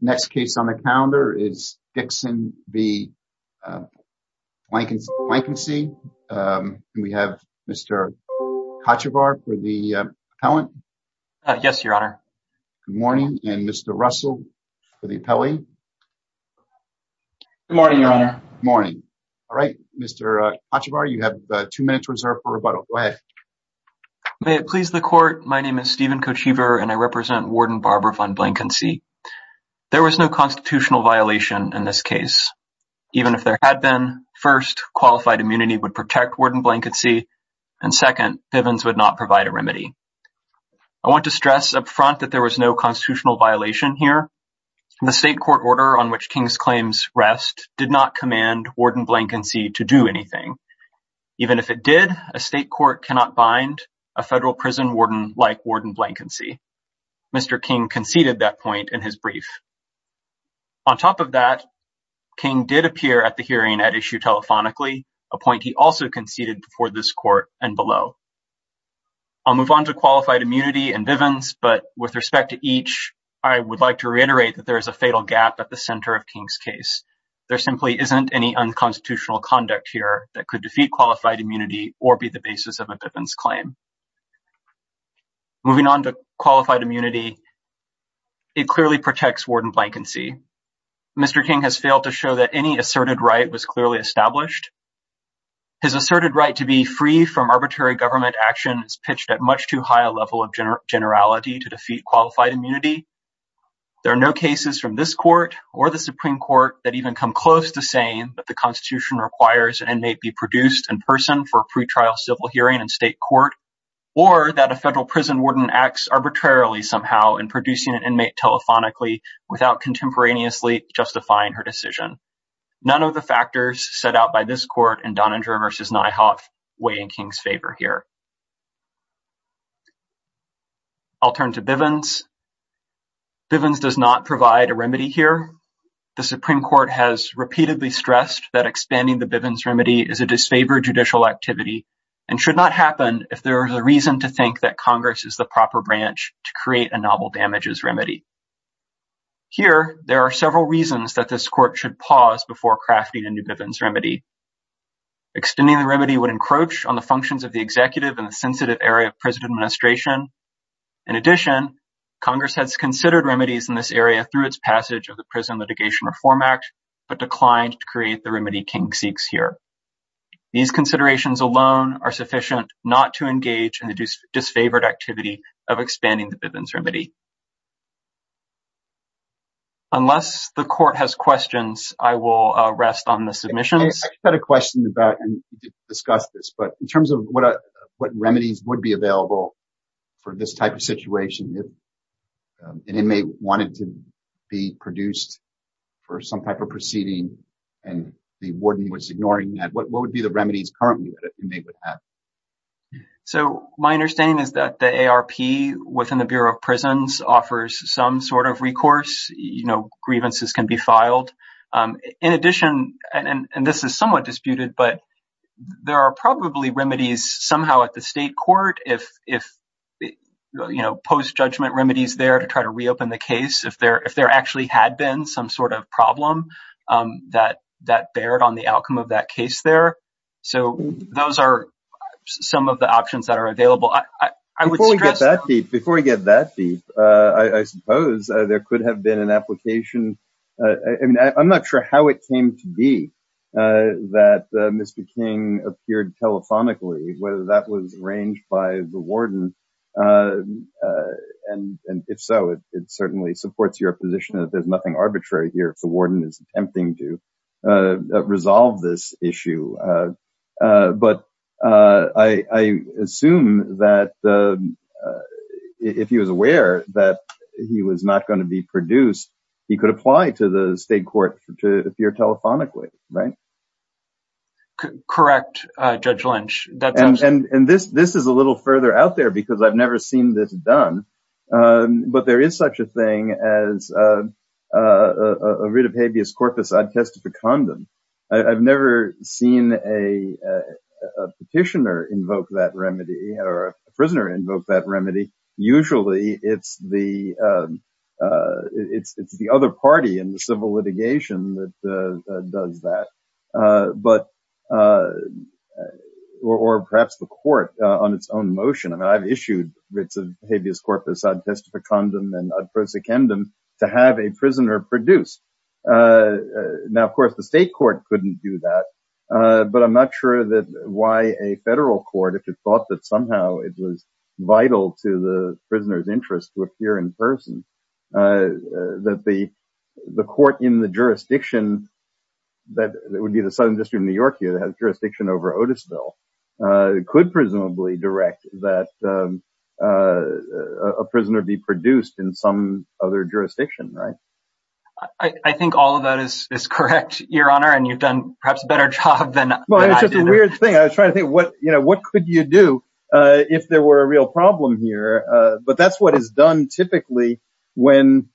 The next case on the calendar is Dixon v. Blanckensee. We have Mr. Kochevar for the appellant. Yes, your honor. Good morning, and Mr. Russell for the appellee. Good morning, your honor. Morning. All right, Mr. Kochevar, you have two minutes reserved for rebuttal. Go ahead. May it please the court, my name is Stephen Kochever and I was no constitutional violation in this case. Even if there had been, first, qualified immunity would protect warden Blanckensee, and second, Pivens would not provide a remedy. I want to stress up front that there was no constitutional violation here. The state court order on which King's claims rest did not command warden Blanckensee to do anything. Even if it did, a state court cannot bind a federal prison warden like warden Blanckensee. Mr. King conceded that point in his brief. On top of that, King did appear at the hearing at issue telephonically, a point he also conceded before this court and below. I'll move on to qualified immunity and Pivens, but with respect to each, I would like to reiterate that there is a fatal gap at the center of King's case. There simply isn't any unconstitutional conduct here that could defeat qualified immunity or be the basis of a Pivens claim. Moving on to qualified immunity, it clearly protects warden Blanckensee. Mr. King has failed to show that any asserted right was clearly established. His asserted right to be free from arbitrary government action is pitched at much too high a level of generality to defeat qualified immunity. There are no cases from this court or the Supreme Court that even come close to saying that the Constitution requires an inmate be produced in person for a pre-trial civil hearing in state court or that a federal prison acts arbitrarily somehow in producing an inmate telephonically without contemporaneously justifying her decision. None of the factors set out by this court and Donninger v. Nyhoff weigh in King's favor here. I'll turn to Pivens. Pivens does not provide a remedy here. The Supreme Court has repeatedly stressed that expanding the Pivens remedy is a disfavored judicial activity and should not happen if there is a reason to think that Congress is the proper branch to create a novel damages remedy. Here, there are several reasons that this court should pause before crafting a new Pivens remedy. Extending the remedy would encroach on the functions of the executive and the sensitive area of prison administration. In addition, Congress has considered remedies in this area through its passage of the Prison Litigation Reform Act but declined to create the remedy King seeks here. These considerations alone are sufficient not to engage in the disfavored activity of expanding the Pivens remedy. Unless the court has questions, I will rest on the submissions. I've got a question about and discuss this but in terms of what remedies would be available for this type of situation if an inmate wanted to be produced for some type of proceeding and the warden was ignoring that, what would be the remedies currently that an inmate would have? So my understanding is that the ARP within the Bureau of Prisons offers some sort of recourse. You know, grievances can be filed. In addition, and this is somewhat disputed, but there are probably remedies somehow at the state if, you know, post-judgment remedies there to try to reopen the case if there actually had been some sort of problem that that bared on the outcome of that case there. So those are some of the options that are available. Before we get that deep, I suppose there could have been an application. I mean, I'm not sure how it came to be that Mr. King appeared telephonically, whether that was arranged by the warden. And if so, it certainly supports your position that there's nothing arbitrary here if the warden is attempting to resolve this issue. But I assume that if he was aware that he was not going to be produced, he could apply to the state court to appear telephonically, right? Correct, Judge Lynch. And this is a little further out there because I've never seen this done, but there is such a thing as a writ of habeas corpus ad testificandum. I've never seen a petitioner invoke that remedy or a prisoner invoke that remedy. Usually, it's the other party in the civil litigation that does that, or perhaps the court on its own motion. I mean, I've issued writs of habeas corpus ad testificandum and ad prosecundum to have a prisoner produced. Now, of course, the state court couldn't do that, but I'm not sure that why a federal court, if it thought that somehow it was vital to the prisoner's interest to appear in person, that the court in the jurisdiction that would be the Southern District of New York here that has jurisdiction over Otisville could presumably direct that a prisoner be produced in some other jurisdiction, right? I think all of that is correct, Your Honor, and you've done perhaps a better job than I did. Well, it's just a weird thing. I was trying to think, what could you do if there were a real problem here? But that's what is done typically when,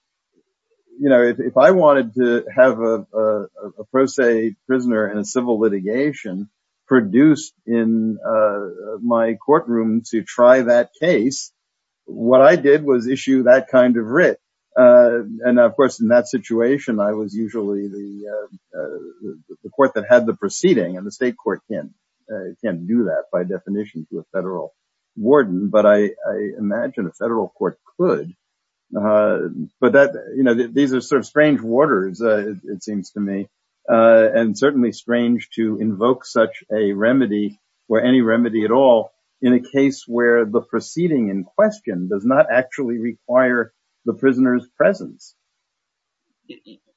you know, if I wanted to have a pro se prisoner in a civil litigation produced in my courtroom to try that case, what I did was issue that kind of writ. And, of course, in that situation, I was usually the court that had the proceeding, and the state court can't do that by definition to a federal warden, but I imagine a federal court could. But that, you know, these are sort of strange waters, it seems to me, and certainly strange to invoke such a remedy, or any remedy at all, in a case where the proceeding in question does actually require the prisoner's presence.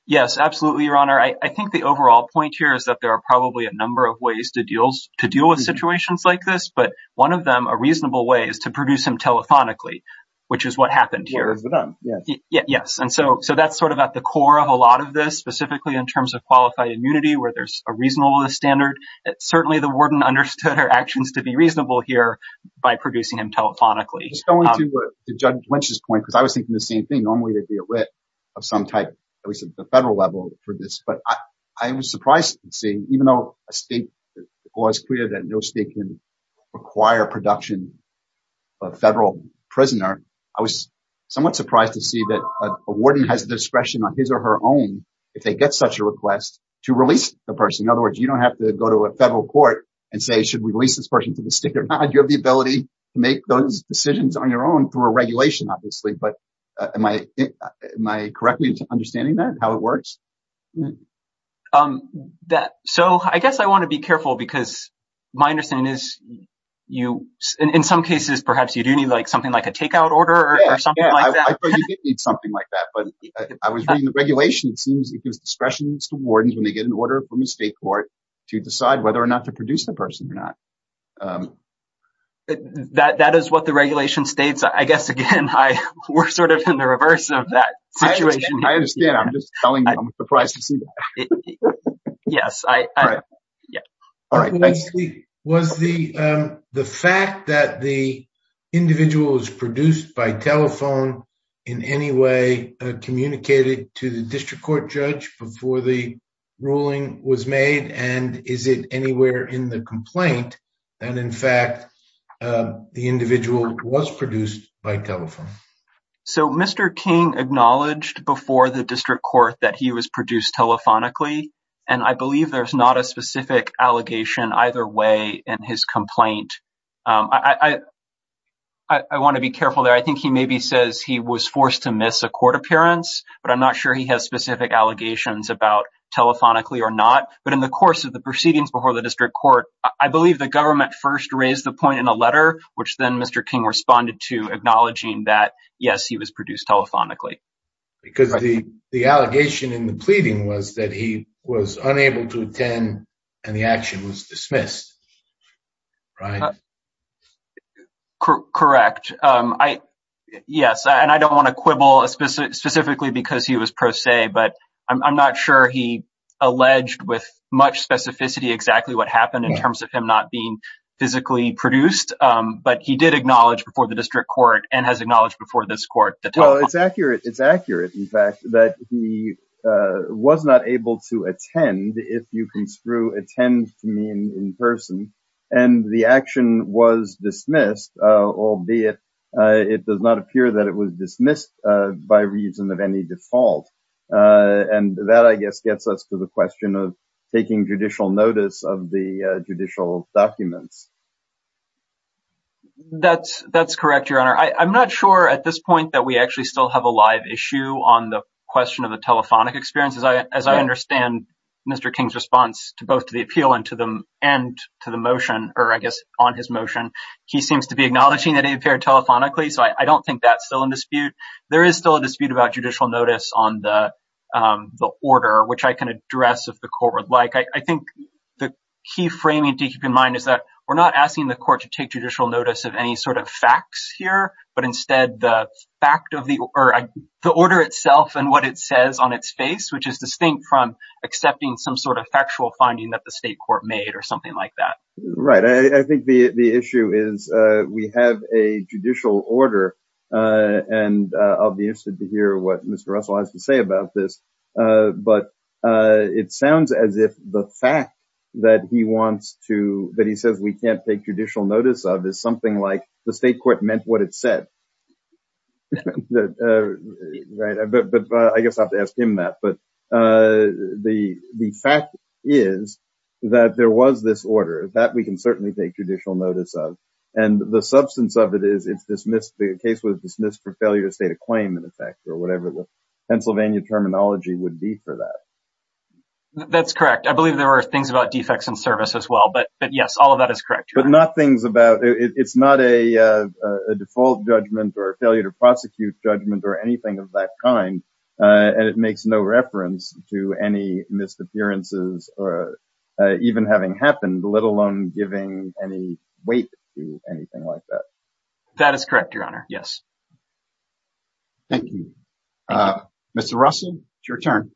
Yes, absolutely, Your Honor. I think the overall point here is that there are probably a number of ways to deal with situations like this, but one of them, a reasonable way, is to produce him telephonically, which is what happened here. Yes, and so that's sort of at the core of a lot of this, specifically in terms of qualified immunity, where there's a reasonable standard. Certainly the warden understood our actions to reasonable here by producing him telephonically. Just going to Judge Lynch's point, because I was thinking the same thing, normally to deal with some type, at least at the federal level, for this, but I was surprised to see, even though a state law is clear that no state can require production of a federal prisoner, I was somewhat surprised to see that a warden has discretion on his or her own, if they get such a request, to release the person. In other words, you don't have to go to a federal court and say, should we release this person to the state or not? You have the ability to make those decisions on your own through a regulation, obviously, but am I correctly understanding that, how it works? So I guess I want to be careful because my understanding is, in some cases, perhaps you do need something like a takeout order or something like that. I thought you did need something like that, but I was reading the regulation. It seems it to decide whether or not to produce the person or not. That is what the regulation states. I guess, again, we're sort of in the reverse of that situation. I understand. I'm just telling you, I'm surprised to see that. Yes. Was the fact that the individual is produced by telephone in any way communicated to the district court judge before the ruling was made, and is it anywhere in the complaint that, in fact, the individual was produced by telephone? So Mr. King acknowledged before the district court that he was produced telephonically, and I believe there's not a specific allegation either way in his complaint. I want to be careful there. I think he maybe says he was forced to miss a court appearance, but I'm not sure he has specific allegations about telephonically or not. But in the course of the proceedings before the district court, I believe the government first raised the point in a letter, which then Mr. King responded to acknowledging that, yes, he was produced telephonically. Because the allegation in the pleading was that he was unable to attend and the action was dismissed, right? Correct. Yes, and I don't want to quibble specifically because he was pro se, but I'm not sure he alleged with much specificity exactly what happened in terms of him not being physically produced. But he did acknowledge before the district court and has acknowledged before this court. It's accurate. It's accurate, in fact, that he was not able to attend, if you can screw attend to mean in person, and the action was dismissed, albeit it does not appear that it was dismissed by reason of any default. And that I guess gets us to the question of taking judicial notice of the judicial documents. That's correct, Your Honor. I'm not sure at this point that we actually still have a live issue on the question of the telephonic experience. As I understand Mr. King's response to both to the appeal and to the motion, or I guess on his motion, he seems to be acknowledging that he appeared telephonically. So I don't think that's still in dispute. There is still a dispute about judicial notice on the order, which I can address if the court would like. I think the key framing to keep in mind is that we're not asking the court to take judicial notice of any sort of facts here, but instead the fact of the order itself and what it says on its face, which is distinct from accepting some sort of factual finding that the state court made or something like that. Right. I think the issue is we have a judicial order, and I'll be interested to hear what Mr. Russell has to say about this, but it sounds as if the fact that he wants to, that he says we can't take judicial notice of, is something like the state court meant what it said. But I guess I'll have to ask him that, but the fact is that there was this order that we can certainly take judicial notice of, and the substance of it is it's dismissed, the case was dismissed for failure to state a claim in effect or whatever the Pennsylvania terminology would be for that. That's correct. I believe there are things about defects in service as well, but yes, all of that is correct. But not things about, it's not a default judgment or a failure to prosecute judgment or anything of that kind, and it makes no reference to any missed appearances or even having happened, let alone giving any weight to anything like that. That is correct, Your Honor. Yes. Thank you. Mr. Russell, it's your turn.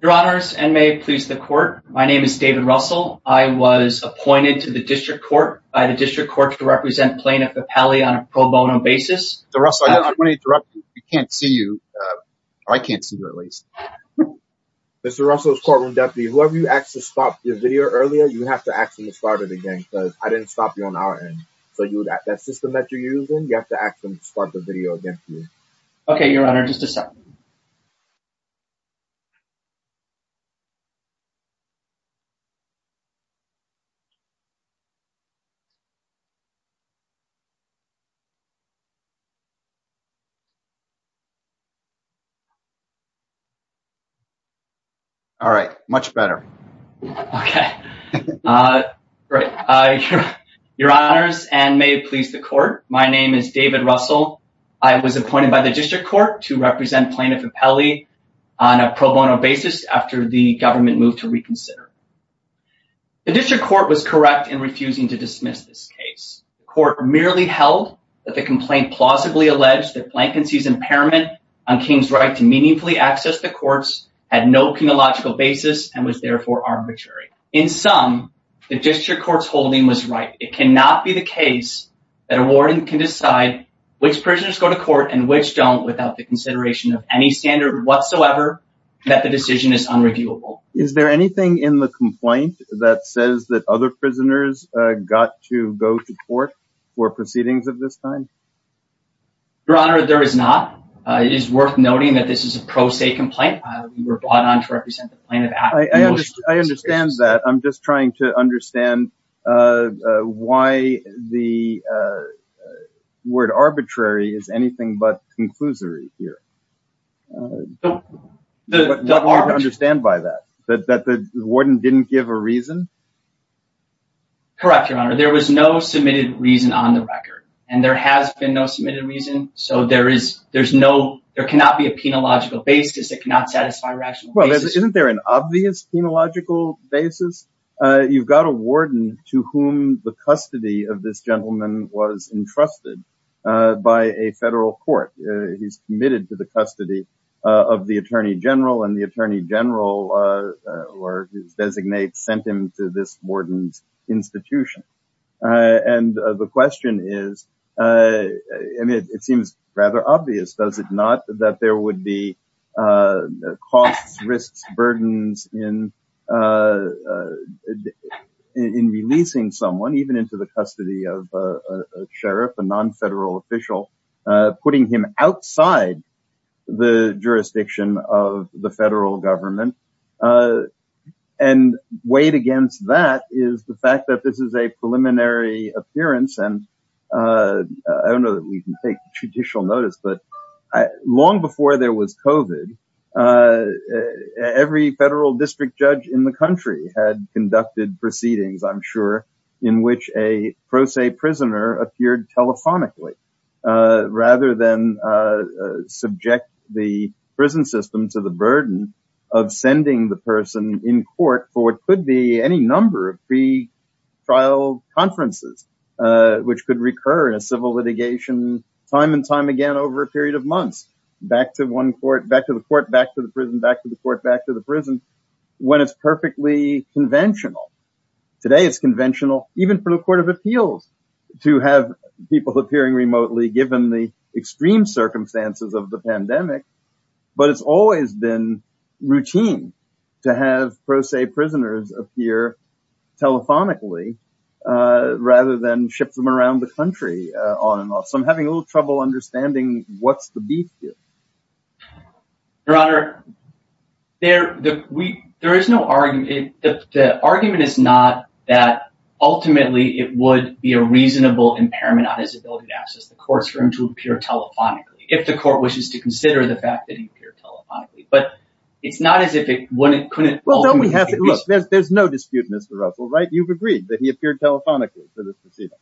Your Honors, and may it please the court. My name is David Russell. I was appointed to the district court by the district court to represent plaintiff Appelli on a pro bono basis. Mr. Russell, I just want to interrupt you. We can't see you, or I can't see you at least. Mr. Russell's courtroom deputy, whoever you asked to stop your video earlier, you have to ask them to start it again because I didn't stop you on our end. So that system that you're using, you have to ask them to start the video again for you. Okay, Your Honor, just a second. All right, much better. Okay. Great. Your Honors, and may it please the court. My name is David Russell. I was appointed to the district court by the district court to represent plaintiff Appelli on a pro bono basis after the government moved to reconsider. The district court was correct in refusing to dismiss this case. The court merely held that the complaint plausibly alleged that Blankensy's impairment on King's right to meaningfully access the courts had no chronological basis and was therefore arbitrary. In sum, the district court's right. It cannot be the case that a warden can decide which prisoners go to court and which don't without the consideration of any standard whatsoever that the decision is unreviewable. Is there anything in the complaint that says that other prisoners got to go to court for proceedings of this time? Your Honor, there is not. It is worth noting that this is a pro se complaint. We were brought on to represent the plaintiff. I understand that. I'm just trying to understand why the word arbitrary is anything but conclusory here. What do you understand by that? That the warden didn't give a reason? Correct, Your Honor. There was no submitted reason on the record and there has been no submitted reason. So there cannot be a penological basis that cannot satisfy rational basis. Isn't there an obvious penological basis? You've got a warden to whom the custody of this gentleman was entrusted by a federal court. He's committed to the custody of the attorney general and the attorney general or his designate sent him to this warden's institution. And the question is, I mean, it seems rather obvious, does it not, that there would be costs, risks, burdens in releasing someone, even into the custody of a sheriff, a non-federal official, putting him outside the jurisdiction of the federal government. And weighed against that is the fact that this is a preliminary appearance. And I don't know that we can take judicial notice, but long before there was COVID, every federal district judge in the country had conducted proceedings, I'm sure, in which a pro se prisoner appeared telephonically, rather than subject the prison system to the burden of sending the person in court for what trial conferences, which could recur in a civil litigation, time and time again, over a period of months, back to one court, back to the court, back to the prison, back to the court, back to the prison, when it's perfectly conventional. Today, it's conventional, even for the Court of Appeals, to have people appearing remotely given the extreme circumstances of the pandemic. But it's always been routine to have pro se prisoners appear telephonically, rather than ship them around the country on and off. So I'm having a little trouble understanding what's the beef here. Your Honor, there is no argument. The argument is not that ultimately it would be a reasonable impairment on his ability to access the courtroom to appear telephonically. If the fact that he appeared telephonically, but it's not as if it wouldn't, couldn't. Well, don't we have to look, there's no dispute, Mr. Russell, right? You've agreed that he appeared telephonically for this proceeding.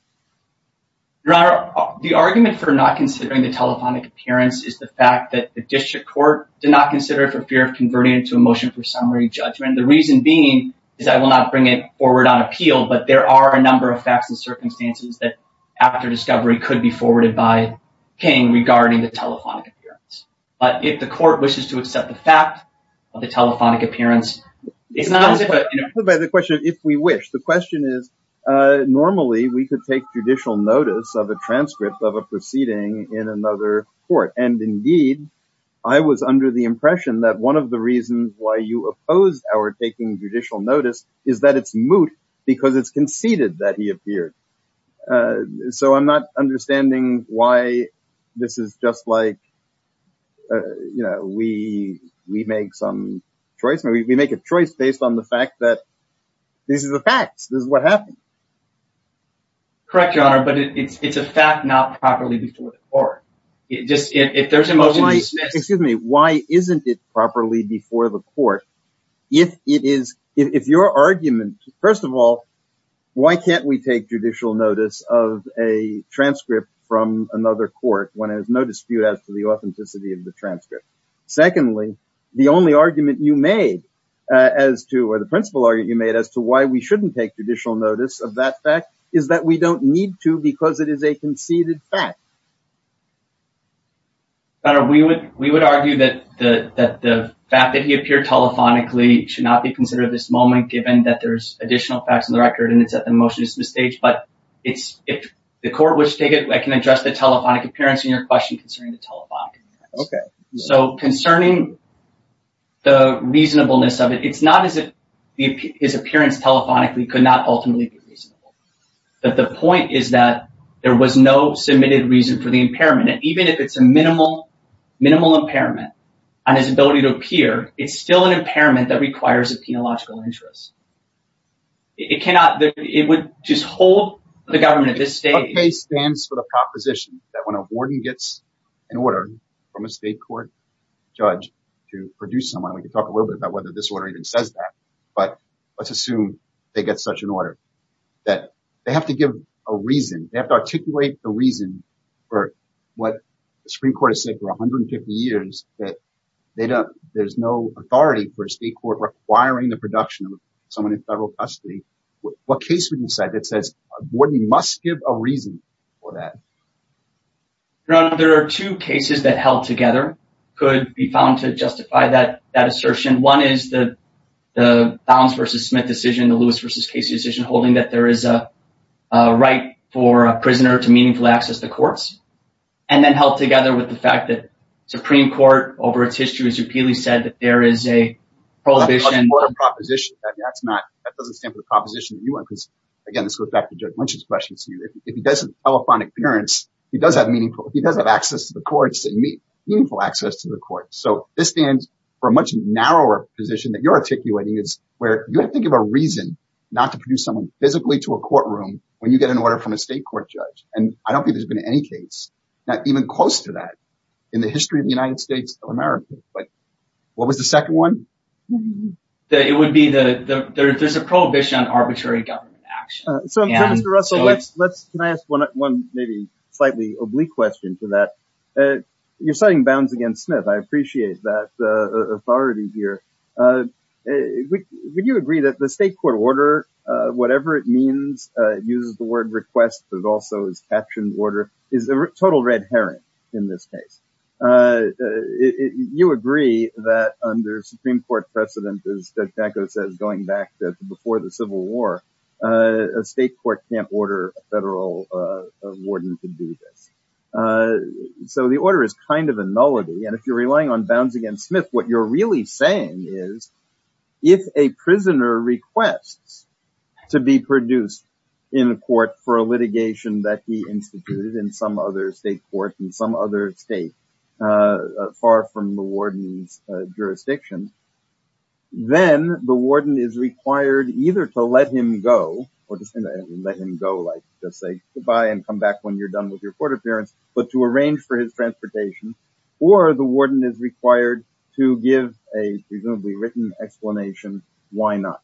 Your Honor, the argument for not considering the telephonic appearance is the fact that the district court did not consider it for fear of converting it to a motion for summary judgment. The reason being is I will not bring it forward on appeal. But there are a number of facts and circumstances that after discovery could be forwarded by the court. But if the court wishes to accept the fact of the telephonic appearance, it's not as if it, you know. If we wish. The question is, normally we could take judicial notice of a transcript of a proceeding in another court. And indeed, I was under the impression that one of the reasons why you opposed our taking judicial notice is that it's moot because it's you know, we, we make some choice. We make a choice based on the fact that this is a fact. This is what happened. Correct, Your Honor. But it's a fact not properly before the court. It just, if there's a motion to dismiss. Excuse me. Why isn't it properly before the court? If it is, if your argument, first of all, why can't we take judicial notice of a dispute as to the authenticity of the transcript? Secondly, the only argument you made as to, or the principle argument you made as to why we shouldn't take judicial notice of that fact is that we don't need to because it is a conceded fact. Your Honor, we would, we would argue that the, that the fact that he appeared telephonically should not be considered at this moment, given that there's additional facts in the record and it's at the motion to dismiss stage. But it's, if the court wishes to take it, I can address the telephonic appearance in your question concerning the telephonic appearance. Okay. So concerning the reasonableness of it, it's not as if his appearance telephonically could not ultimately be reasonable. But the point is that there was no submitted reason for the impairment. And even if it's a minimal, minimal impairment on his ability to appear, it's still an impairment that requires a penological interest. It cannot, it would just hold the state. It stands for the proposition that when a warden gets an order from a state court judge to produce someone, we can talk a little bit about whether this order even says that, but let's assume they get such an order that they have to give a reason. They have to articulate the reason for what the Supreme Court has said for 150 years, that they don't, there's no authority for state court requiring the production of someone in federal custody. What case would a warden must give a reason for that? There are two cases that held together could be found to justify that assertion. One is the Bounds versus Smith decision, the Lewis versus Casey decision, holding that there is a right for a prisoner to meaningfully access the courts and then held together with the fact that Supreme Court over its history has repeatedly said that there is a proposition. That's not, that doesn't stand for the proposition that you want, because again, this goes back to Judge Lynch's question to you. If he doesn't have a phonic appearance, he does have meaningful, he does have access to the courts and meaningful access to the court. So this stands for a much narrower position that you're articulating is where you have to think of a reason not to produce someone physically to a courtroom when you get an order from a state court judge. And I don't think there's been any case that even close to that in the history of the United States of America. But what was the second one? It would be the, there's a prohibition on arbitrary government action. So Mr. Russell, can I ask one maybe slightly oblique question to that? You're citing Bounds against Smith. I appreciate that authority here. Would you agree that the state court order, whatever it means, uses the word request, but also is captioned order, is a total red herring in this case? You agree that under Supreme Court precedent, as Judge Nacco says, going back to before the Civil War, a state court can't order a federal warden to do this. So the order is kind of a nullity. And if you're relying on Bounds against Smith, what you're really saying is, if a prisoner requests to be produced in court for a litigation that he instituted in some other state court in some other state, far from the warden's jurisdiction, then the warden is required either to let him go, or just let him go, like just say goodbye and come back when you're done with your court appearance, but to arrange for his transportation, or the warden is required to give a presumably written explanation, why not?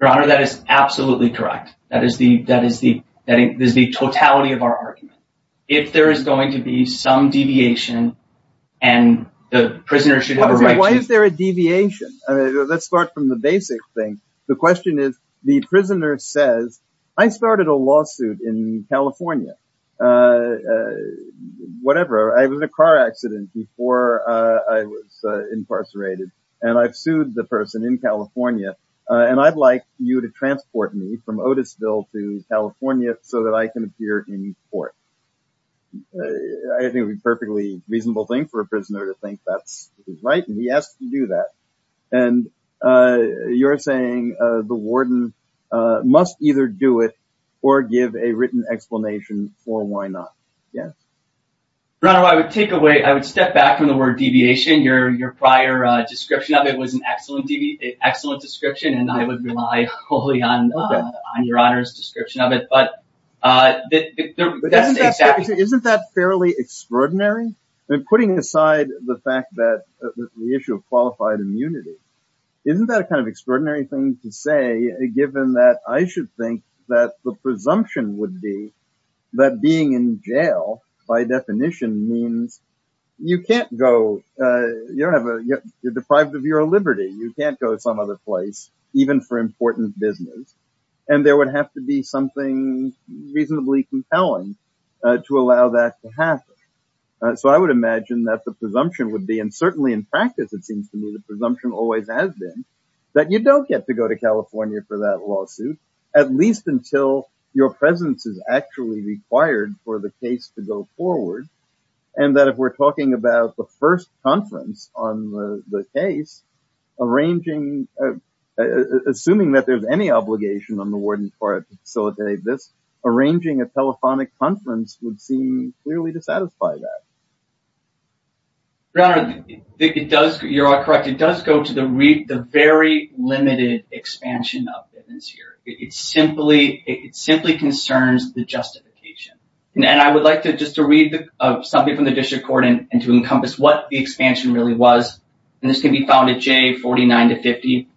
Your Honor, that is absolutely correct. That is the totality of our argument. If there is going to be some deviation, and the prisoner should have a right to- Why is there a deviation? Let's start from the basic thing. The question is, the prisoner says, I started a lawsuit in California. Whatever, I was in a car accident before I was incarcerated, and I've sued the person in to California so that I can appear in court. I think it would be a perfectly reasonable thing for a prisoner to think that's right, and he has to do that. And you're saying the warden must either do it, or give a written explanation for why not. Yes? Your Honor, I would step back from the word deviation. Your prior description of it was an excellent description, and I would rely wholly on your Honor's description of it. Isn't that fairly extraordinary? Putting aside the issue of qualified immunity, isn't that an extraordinary thing to say, given that I should think that the presumption would be that being in jail, by definition, means you can't go- You're deprived of your liberty. You can't go to some other place, even for important business. And there would have to be something reasonably compelling to allow that to happen. So I would imagine that the presumption would be, and certainly in practice it seems to me the presumption always has been, that you don't get to go to California for that lawsuit, at least until your presence is actually required for the case to go forward. And that if we're talking about the first conference on the case, assuming that there's any obligation on the warden's part to facilitate this, arranging a telephonic conference would seem clearly to satisfy that. Your Honor, you're correct. It does go to the very limited expansion of business here. It simply concerns the justification. And I would like just to read something from the district court and to encompass what the expansion really was. And this can be found at J49-50.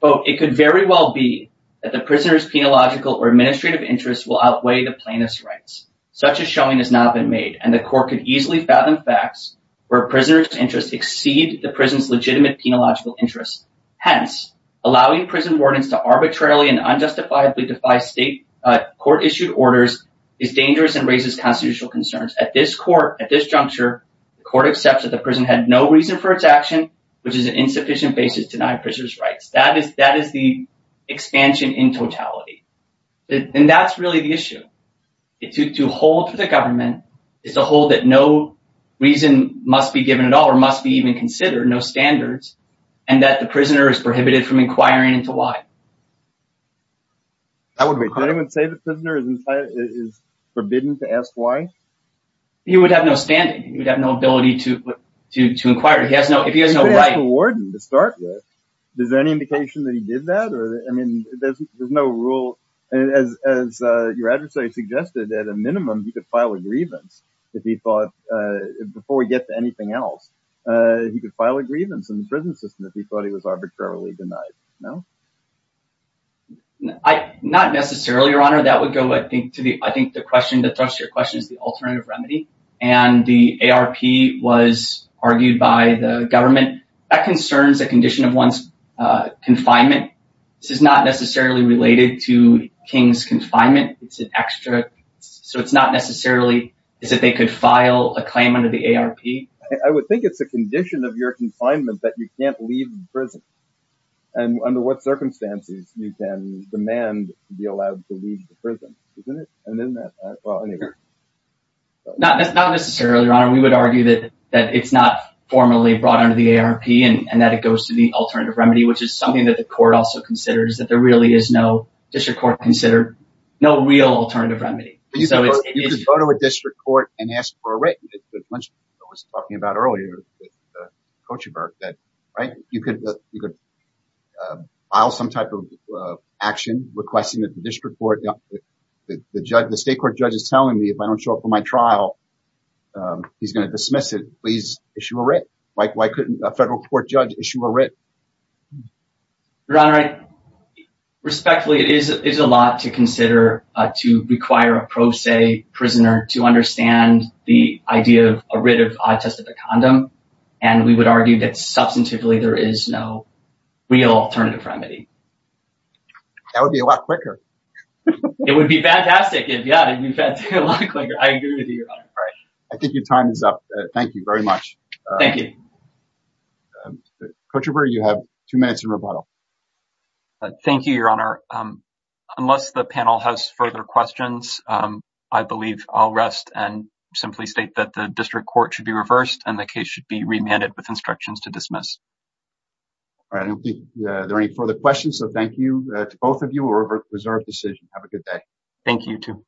Quote, it could very well be that the prisoner's penological or administrative interests will outweigh the plaintiff's rights. Such a showing has not been made, and the court could easily fathom facts where a prisoner's interests exceed the prison's legitimate penological interests. Hence, allowing prison wardens to arbitrarily and unjustifiably defy state court-issued orders is dangerous and raises constitutional concerns. At this court, at this juncture, the court accepts that the prison had no reason for its action, which is an insufficient basis to deny prisoners rights. That is the expansion in totality. And that's really the issue. To hold for the government is to hold that no reason must be given at all or must be even considered, no standards, and that the prisoner is prohibited from inquiring into why. I would agree. Did anyone say the prisoner is forbidden to ask why? He would have no standing. He would have no ability to inquire. If he has no right. He would have to award him to start with. Is there any indication that he did that? I mean, there's no rule. As your adversary suggested, at a minimum, he could file a grievance if he thought, before we get to anything else, he could file a grievance in the prison system if he thought he was arbitrarily denied. No? Not necessarily, Your Honor. That would go, I think, to the question, the thrust of your question is the alternative remedy. And the ARP was argued by the government. That concerns a condition of one's confinement. This is not necessarily related to King's confinement. It's an extra. So it's not necessarily that they could file a claim under the ARP. I would think it's a condition of your confinement that you can't leave the prison. And under what circumstances you can demand to be allowed to leave the prison, isn't it? Well, not necessarily, Your Honor. We would argue that it's not formally brought under the ARP and that it goes to the alternative remedy, which is something that the court also considers, that there really is no district court considered, no real alternative remedy. But you could go to a district court and ask for a written, as I mentioned, I was talking about earlier, Cochaburg, that you could file some type of action requesting that the district court, the state court judge is telling me if I don't show up for my trial, he's going to dismiss it. Please issue a writ. Why couldn't a federal court judge issue a writ? Your Honor, respectfully, it is a lot to consider to require a pro se prisoner to understand the idea of a writ of a test of a condom. And we would argue that substantively, there is no real alternative remedy. That would be a lot quicker. It would be fantastic if, yeah, it would be a lot quicker. I agree with you, Your Honor. I think your time is up. Thank you very much. Thank you. Cochaburg, you have two minutes in rebuttal. Thank you, Your Honor. Unless the panel has further questions, I believe I'll rest and simply state that the district court should be reversed and the case should be remanded with instructions to dismiss. All right. I don't think there are any further questions. So thank you to both of you. It was our decision. Have a good day. Thank you, too.